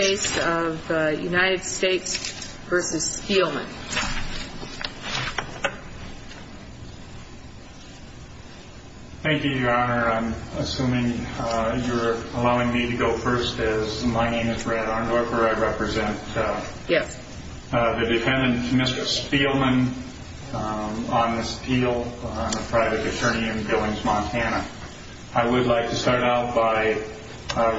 Thank you, your honor. I'm assuming you're allowing me to go first as my name is Brad Arndorfer. I represent the defendant, Mr. Speelman, on this appeal on a private attorney in Billings, Montana. I would like to start out by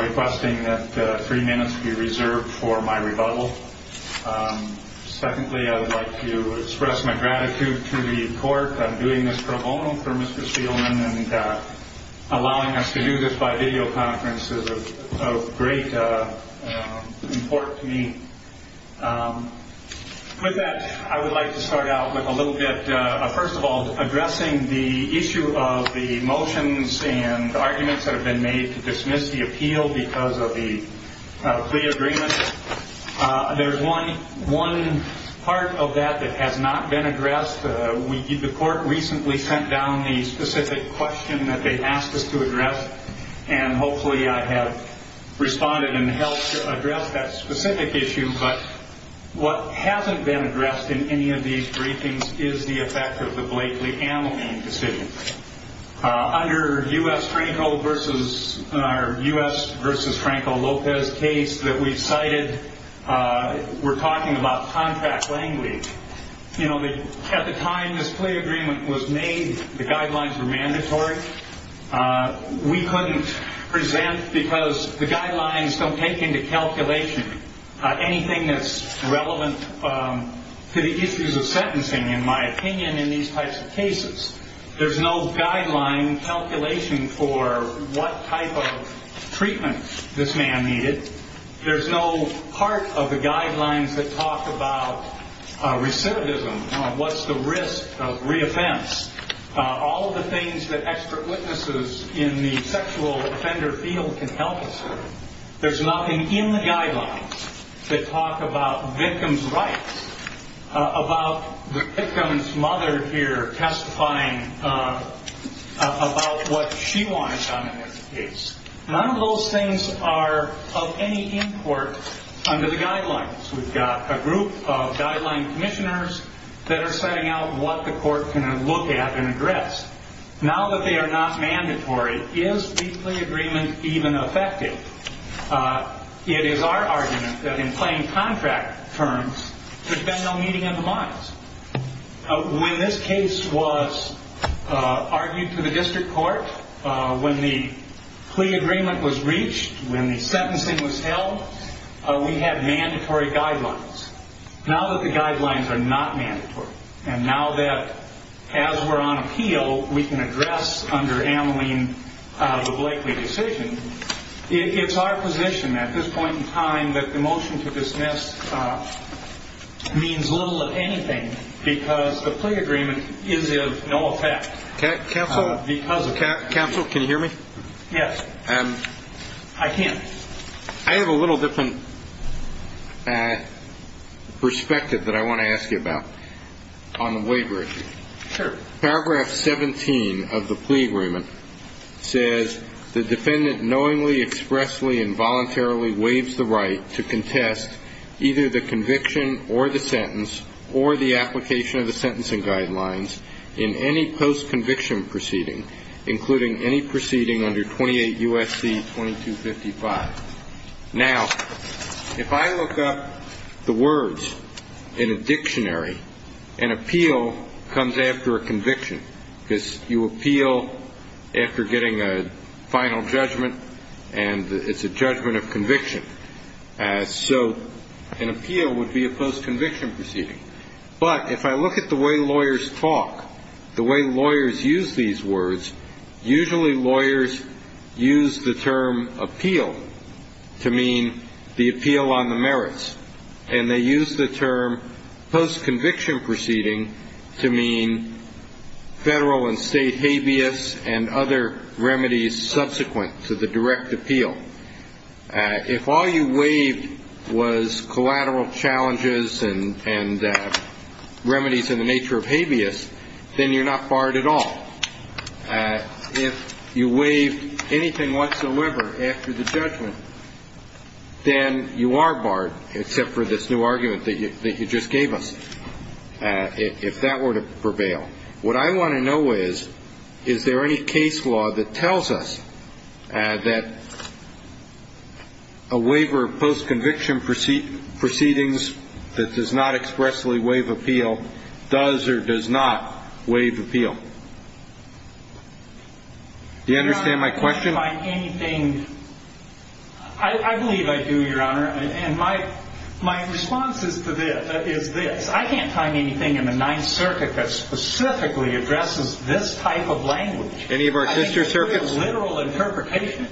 requesting that three minutes be reserved for my rebuttal. Secondly, I would like to express my gratitude to the court on doing this pro bono for Mr. Speelman and allowing us to do this by videoconference is of great importance to me. With that, I would like to start out with a little bit, first of all, addressing the issue of the motions and arguments that have been made to dismiss the appeal because of the plea agreement. There's one part of that that has not been addressed. The court recently sent down the specific question that they asked us to address, and hopefully I have responded and helped address that specific issue. But what hasn't been Under U.S. vs. Franco Lopez case that we cited, we're talking about contract language. At the time this plea agreement was made, the guidelines were mandatory. We couldn't present because the guidelines don't take into calculation anything that's relevant to the issues of sentencing, in my opinion, in these types of cases. There's no guideline calculation for what type of treatment this man needed. There's no part of the guidelines that talk about recidivism, what's the risk of reoffense, all of the things that expert witnesses in the sexual offender field can help us with. There's nothing in the guidelines that talk about victim's rights, about the victim's mother here testifying about what she wanted done in this case. None of those things are of any import under the guidelines. We've got a group of guideline commissioners that are setting out what the court can look at and address. Now that they are not mandatory, is the plea agreement even effective? It is our argument that in plain contract terms, there's been no meeting in the minds. When this case was argued to the district court, when the plea agreement was reached, when the sentencing was held, we had mandatory guidelines. Now that the guidelines are not mandatory, and now that as we're on appeal, we can address under Ameline the Blakeley decision, it's our position at this point in time that the motion to dismiss means little if anything because the plea agreement is of no effect. Counsel, can you hear me? Yes. I can. I have a little different perspective that I want to ask you about on the waiver issue. Sure. Paragraph 17 of the plea agreement says the defendant knowingly, expressly, and voluntarily waives the right to contest either the conviction or the sentence or the application of the sentencing guidelines in any post-conviction proceeding, including any proceeding under 28 U.S.C. 2255. Now, if I look up the words in a dictionary, an appeal comes after a conviction. Because you appeal after getting a final judgment, and it's a judgment of conviction. So an appeal would be a post-conviction proceeding. But if I look at the way lawyers talk, the way lawyers use these words, usually lawyers use the term appeal to mean the federal and state habeas and other remedies subsequent to the direct appeal. If all you waived was collateral challenges and remedies in the nature of habeas, then you're not barred at all. If you waived anything whatsoever after the judgment, then you are barred, except for this new argument that you just gave us, if that were to prevail. What I want to know is, is there any case law that tells us that a waiver of post-conviction proceedings that does not expressly waive appeal does or does not waive appeal? Do you understand my question? I believe I do, Your Honor. And my response is this. I can't find anything in the court that specifically addresses this type of language. Any of our sister circuits? I think there is a literal interpretation.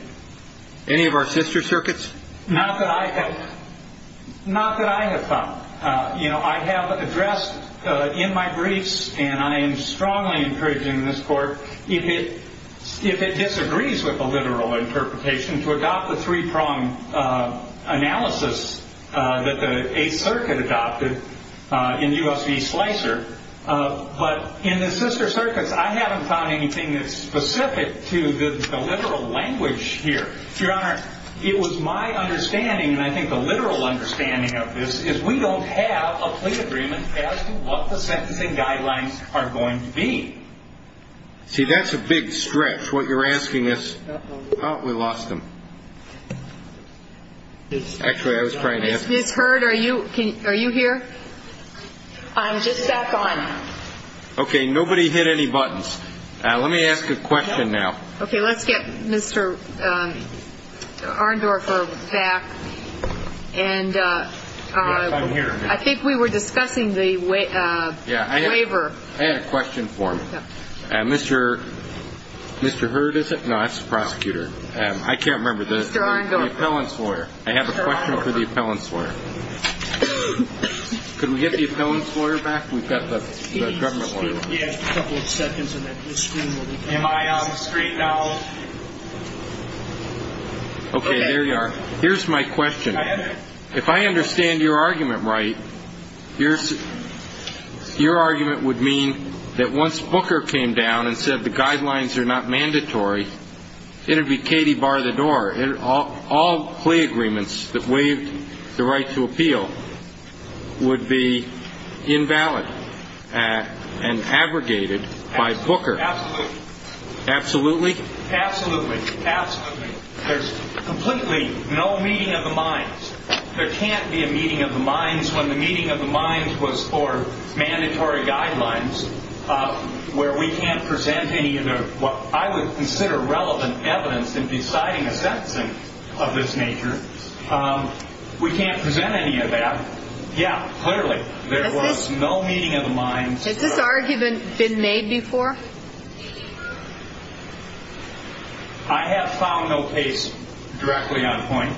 Any of our sister circuits? Not that I have found. I have addressed in my briefs, and I am strongly encouraging this Court, if it disagrees with the literal interpretation, to adopt the three-pronged But in the sister circuits, I haven't found anything that's specific to the literal language here. Your Honor, it was my understanding, and I think the literal understanding of this, is we don't have a plea agreement as to what the sentencing guidelines are going to be. See, that's a big stretch, what you're asking us. Oh, we lost him. Actually, I was trying to ask him. Ms. Hurd, are you here? I'm just back on. Okay, nobody hit any buttons. Let me ask a question now. Okay, let's get Mr. Arndorfer back. I'm here. I think we were discussing the waiver. I had a question for him. Mr. Hurd, is it? No, that's the prosecutor. I can't remember. Mr. Arndorfer. I have a question for the appellant's lawyer. Could we get the appellant's lawyer back? We've got the government lawyer. He has a couple of seconds, and then his screen will be back. Am I on the screen now? Okay, there you are. Here's my question. If I understand your argument right, your argument would mean that once Booker came down and said the guidelines are not mandatory, it would be Katie bar the door. All plea agreements that waived the right to appeal would be invalid and abrogated by Booker. Absolutely. Absolutely? Absolutely. Absolutely. There's completely no meeting of the minds. There can't be a meeting of the minds when the meeting of the minds was for mandatory guidelines where we can't present any of what I would consider relevant evidence in deciding a sentencing of this nature. We can't present any of that. Yeah, clearly, there was no meeting of the minds. Has this argument been made before? I have found no case directly on point.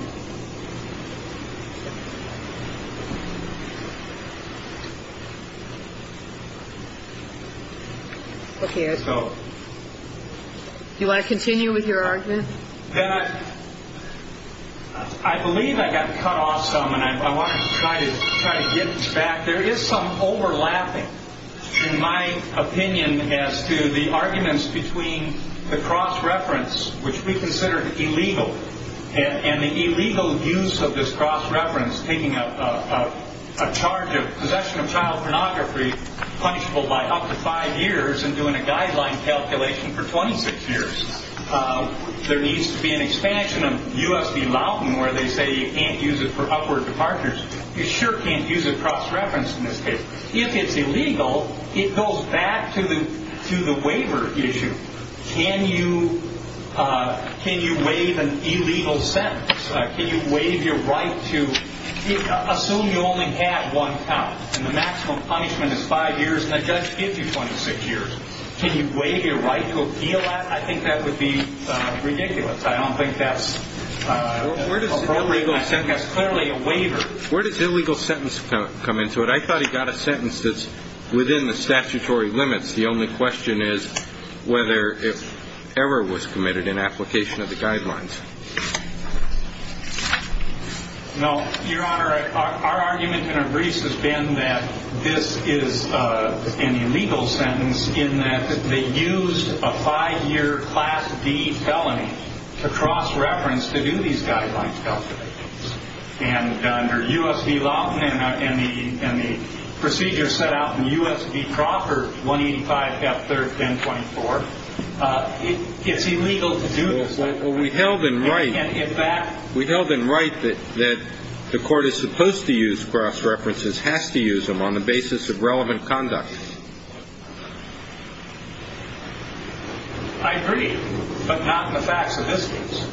Okay. Do you want to continue with your argument? I believe I got cut off some, and I want to try to get back. There is some overlapping, in my opinion, as to the arguments between the cross-reference, which we consider illegal, and the illegal use of this cross-reference, taking a charge of possession of child pornography punishable by up to five years and doing a guideline calculation for 26 years. There needs to be an expansion of U.S. v. Lawton where they say you can't use it for upward departures. You sure can't use a cross-reference in this case. If it's illegal, it goes back to the waiver issue. Can you waive an illegal sentence? Can you waive your right to assume you only have one count and the maximum punishment is five years and the judge gives you 26 years? Can you waive your right to appeal that? I think that would be ridiculous. I don't think that's appropriate. That's clearly a waiver. Where does illegal sentence come into it? I thought he got a sentence that's within the statutory limits. The only question is whether error was committed in application of the guidelines. No, Your Honor, our argument in a brief has been that this is an illegal sentence in that they used a five-year Class D felony to cross-reference to do these guidelines calculations. And under U.S. v. Lawton and the procedure set out in U.S. v. Crocker, 185 F. 3rd 1024, it's illegal to do this. Well, we held in right that the court is supposed to use cross-references, has to use them on the basis of relevant conduct. I agree, but not in the facts of this case,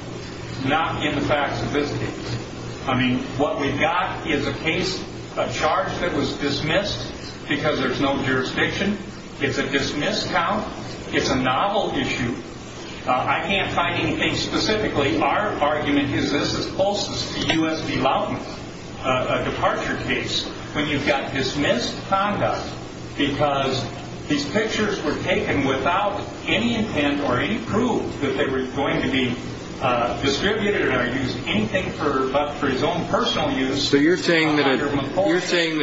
not in the facts of this case. I mean, what we've got is a case, a charge that was dismissed because there's no jurisdiction. It's a dismissed count. It's a novel issue. I can't find anything specifically. Our argument is this is closest to U.S. v. Lawton, a departure case, when you've got dismissed conduct because these pictures were taken without any intent or any proof that they were going to be distributed or used anything but for his own personal use. So you're saying that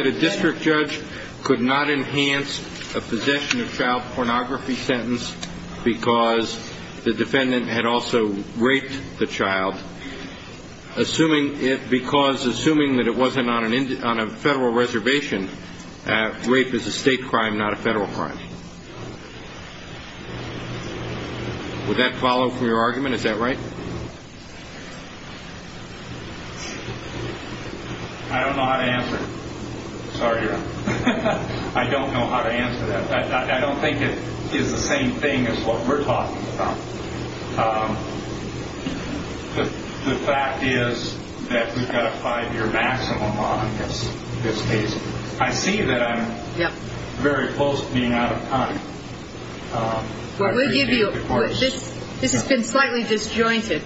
a district judge could not enhance a possession of child pornography sentence because the defendant had also raped the child, assuming that it wasn't on a federal reservation. Rape is a state crime, not a federal crime. Would that follow from your argument? Is that right? I don't know how to answer. Sorry, Your Honor. I don't know how to answer that. I don't think it is the same thing as what we're talking about. The fact is that we've got a five-year maximum on this case. I see that I'm very close to being out of time. This has been slightly disjointed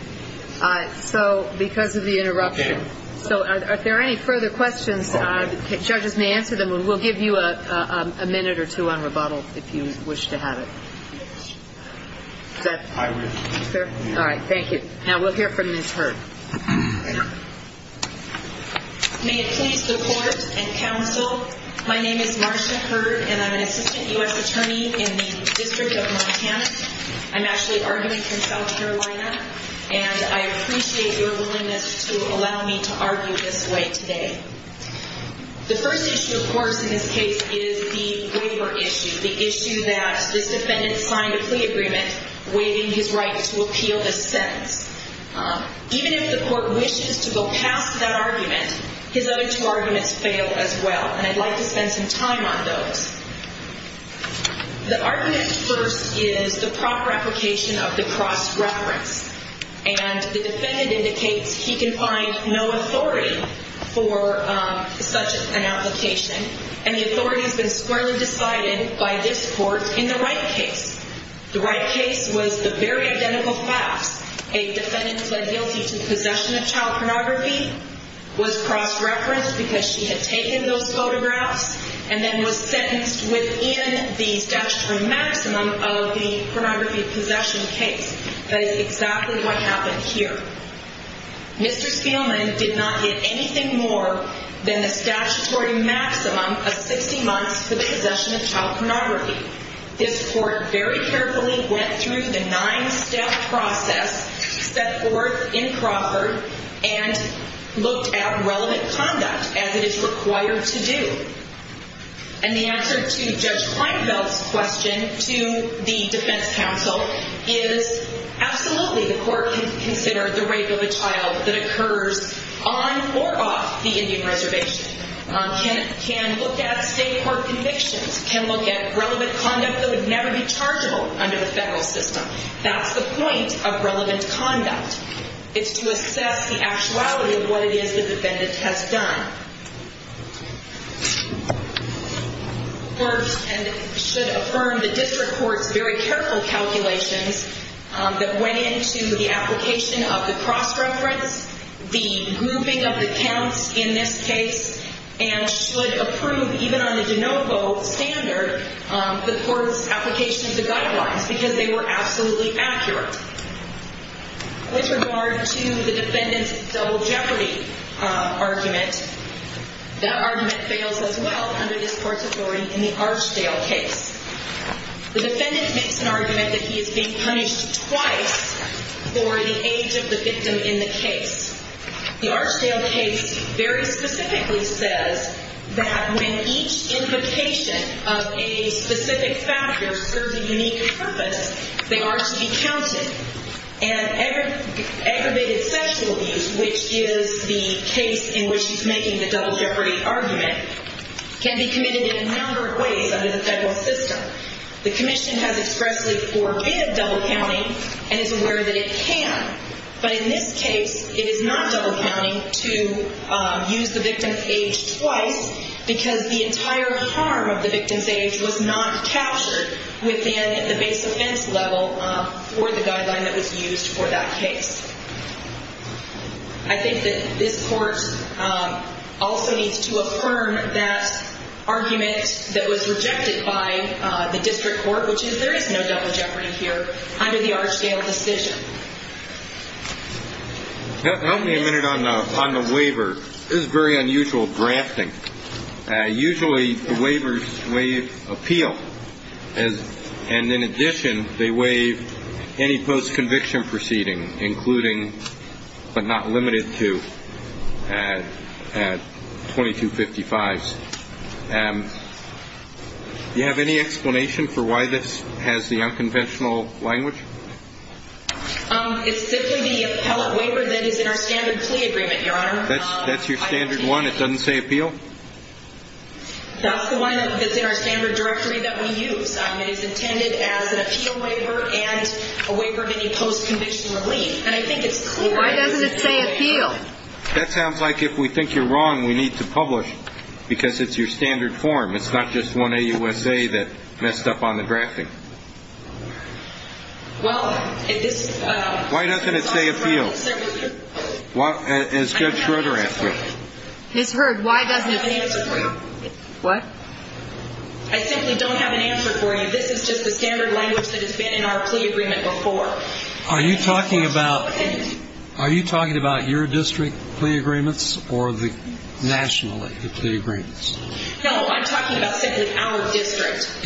because of the interruption. So are there any further questions? The judges may answer them. We'll give you a minute or two on rebuttal if you wish to have it. Is that fair? All right, thank you. Now we'll hear from Ms. Hurd. May it please the Court and counsel, my name is Marcia Hurd, and I'm an assistant U.S. attorney in the District of Montana. I'm actually arguing for South Carolina, and I appreciate your willingness to allow me to argue this way today. The first issue, of course, in this case is the waiver issue, the issue that this defendant signed a plea agreement waiving his right to appeal this sentence. Even if the Court wishes to go past that argument, his other two arguments fail as well, and I'd like to spend some time on those. The argument first is the proper application of the cross-reference, and the defendant indicates he can find no authority for such an application, and the authority has been squarely decided by this Court in the Wright case. The Wright case was the very identical class. A defendant pled guilty to possession of child pornography, was cross-referenced because she had taken those photographs, and then was sentenced within the statutory maximum of the pornography possession case. That is exactly what happened here. Mr. Spielman did not get anything more than the statutory maximum of 60 months for the possession of child pornography. This Court very carefully went through the nine-step process set forth in Crawford and looked at relevant conduct as it is required to do. And the answer to Judge Kleinfeld's question to the defense counsel is, absolutely, the Court can consider the rape of a child that occurs on or off the Indian Reservation, can look at state court convictions, can look at relevant conduct that would never be chargeable under the federal system. That's the point of relevant conduct. It's to assess the actuality of what it is the defendant has done. First, and it should affirm the district court's very careful calculations that went into the application of the cross-reference, the grouping of the counts in this case, and should approve, even on the de novo standard, the court's application to guidelines, because they were absolutely accurate. With regard to the defendant's double jeopardy argument, that argument fails as well under this Court's authority in the Archdale case. The defendant makes an argument that he is being punished twice for the age of the victim in the case. The Archdale case very specifically says that when each implication of a specific factor serves a unique purpose, they are to be counted. And aggravated sexual abuse, which is the case in which he's making the double jeopardy argument, can be committed in a number of ways under the federal system. The commission has expressly forbidden double counting and is aware that it can. But in this case, it is not double counting to use the victim's age twice, because the entire harm of the victim's age was not captured within the base offense level for the guideline that was used for that case. I think that this Court also needs to affirm that argument that was rejected by the district court, which is there is no double jeopardy here under the Archdale decision. Help me a minute on the waiver. This is very unusual grafting. Usually, the waivers waive appeal. And in addition, they waive any post-conviction proceeding, including but not limited to 2255s. Do you have any explanation for why this has the unconventional language? It's simply the appellate waiver that is in our standard plea agreement, Your Honor. That's your standard one? It doesn't say appeal? That's the one that's in our standard directory that we use. It is intended as an appeal waiver and a waiver of any post-conviction relief. And I think it's clear. Why doesn't it say appeal? That sounds like if we think you're wrong, we need to publish, because it's your standard form. It's not just one AUSA that messed up on the drafting. Why doesn't it say appeal? As Judge Schroeder asked it. Ms. Hurd, why doesn't it say appeal? What? I simply don't have an answer for you. This is just the standard language that has been in our plea agreement before. Are you talking about your district plea agreements or nationally the plea agreements? No, I'm talking about simply our district.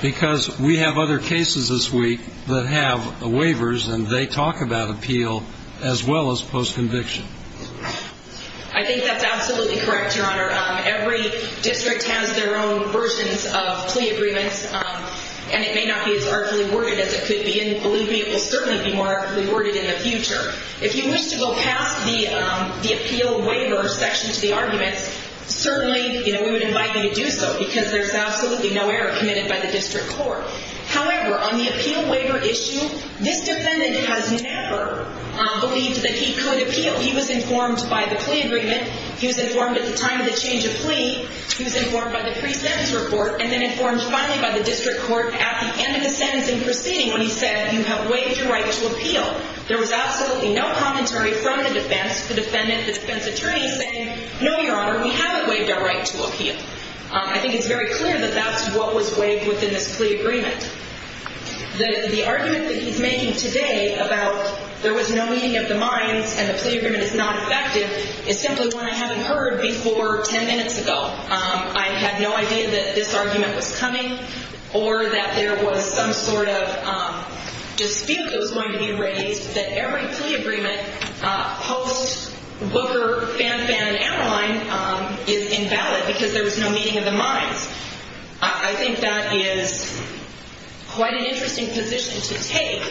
Because we have other cases this week that have waivers, and they talk about appeal as well as post-conviction. I think that's absolutely correct, Your Honor. Every district has their own versions of plea agreements, and it may not be as artfully worded as it could be, and I believe it will certainly be more artfully worded in the future. If you wish to go past the appeal waiver section to the arguments, certainly we would invite you to do so, because there's absolutely no error committed by the district court. However, on the appeal waiver issue, this defendant has never believed that he could appeal. He was informed by the plea agreement. He was informed at the time of the change of plea. He was informed by the pre-sentence report, and then informed finally by the district court at the end of the sentencing proceeding when he said, you have waived your right to appeal. There was absolutely no commentary from the defense, the defendant, the defense attorney, saying, no, Your Honor, we haven't waived our right to appeal. I think it's very clear that that's what was waived within this plea agreement. The argument that he's making today about there was no meeting of the minds and the plea agreement is not effective is simply one I haven't heard before 10 minutes ago. I had no idea that this argument was coming or that there was some sort of dispute that was going to be raised, that every plea agreement post-Booker, Fanfan, and Annaline is invalid because there was no meeting of the minds. I think that is quite an interesting position to take.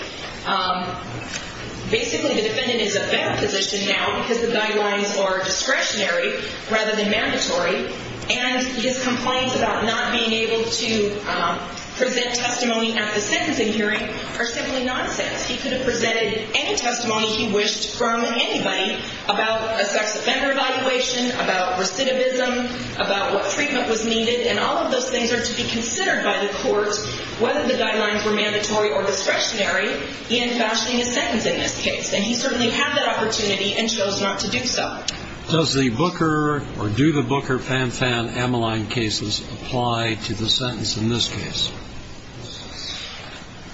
Basically, the defendant is a bad position now because the guidelines are discretionary rather than mandatory, and his complaints about not being able to present testimony at the sentencing hearing are simply nonsense. He could have presented any testimony he wished from anybody about a sex offender evaluation, about recidivism, about what treatment was needed, and all of those things are to be considered by the court, whether the guidelines were mandatory or discretionary, in fashioning a sentence in this case. And he certainly had that opportunity and chose not to do so. Does the Booker or do the Booker, Fanfan, Annaline cases apply to the sentence in this case?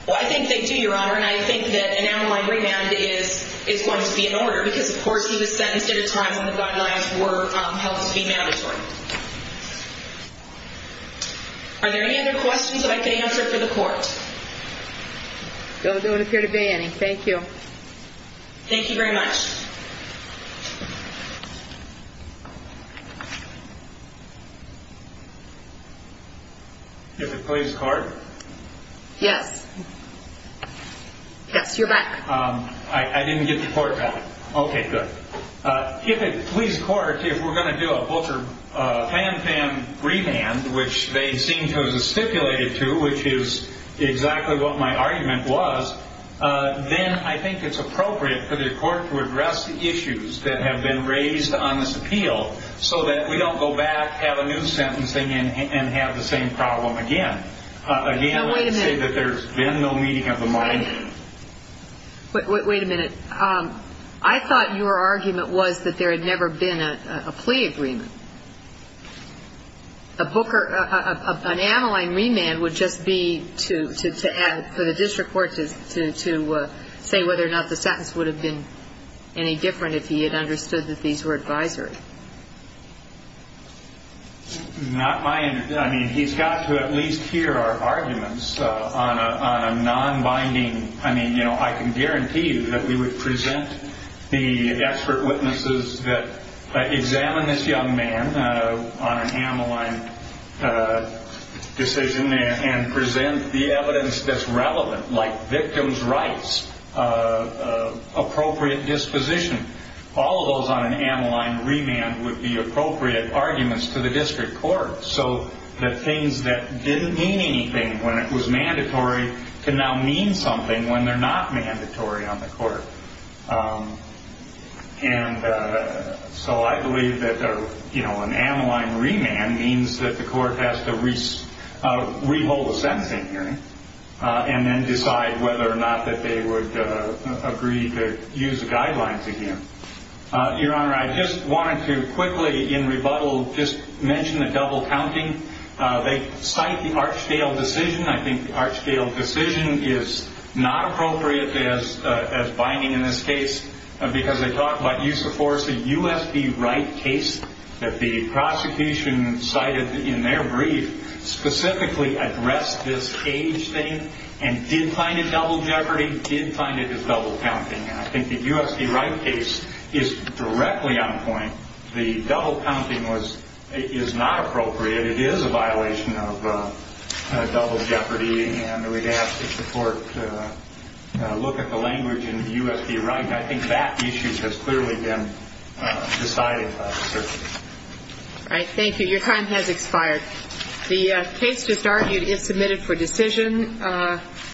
Well, I think they do, Your Honor, and I think that Annaline remand is going to be in order because, of course, he was sentenced at a time when the guidelines were held to be mandatory. Are there any other questions that I could answer for the court? No, there don't appear to be any. Thank you. Thank you very much. If it please the court. Yes. Yes, you're back. I didn't get the court back. Okay, good. If it please the court, if we're going to do a Booker-Fanfan remand, which they seem to have stipulated to, which is exactly what my argument was, then I think it's appropriate for the court to address the issues that have been raised on this appeal so that we don't go back, have a new sentencing, and have the same problem again. Again, I would say that there's been no meeting of the mind. Wait a minute. I thought your argument was that there had never been a plea agreement. A Booker, an Adeline remand would just be to add for the district court to say whether or not the sentence would have been any different if he had understood that these were advisory. Not my, I mean, he's got to at least hear our arguments on a non-binding, I mean, you know, I can guarantee you that we would present the expert witnesses that examine this young man on an Adeline decision and present the evidence that's relevant, like victim's rights, appropriate disposition. All of those on an Adeline remand would be appropriate arguments to the district court so that things that didn't mean anything when it was mandatory can now mean something when they're not mandatory on the court. And so I believe that an Adeline remand means that the court has to re-hold the sentencing hearing and then decide whether or not that they would agree to use the guidelines again. Your Honor, I just wanted to quickly, in rebuttal, just mention the double counting. They cite the Archdale decision. I think the Archdale decision is not appropriate as binding in this case because they talk about use of force. The U.S. v. Wright case that the prosecution cited in their brief specifically addressed this cage thing and did find it double jeopardy, did find it as double counting. And I think the U.S. v. Wright case is directly on point. The double counting is not appropriate. It is a violation of double jeopardy, and we'd ask that the court look at the language in U.S. v. Wright. I think that issue has clearly been decided by the circuit. All right, thank you. Your time has expired. The case just argued is submitted for decision.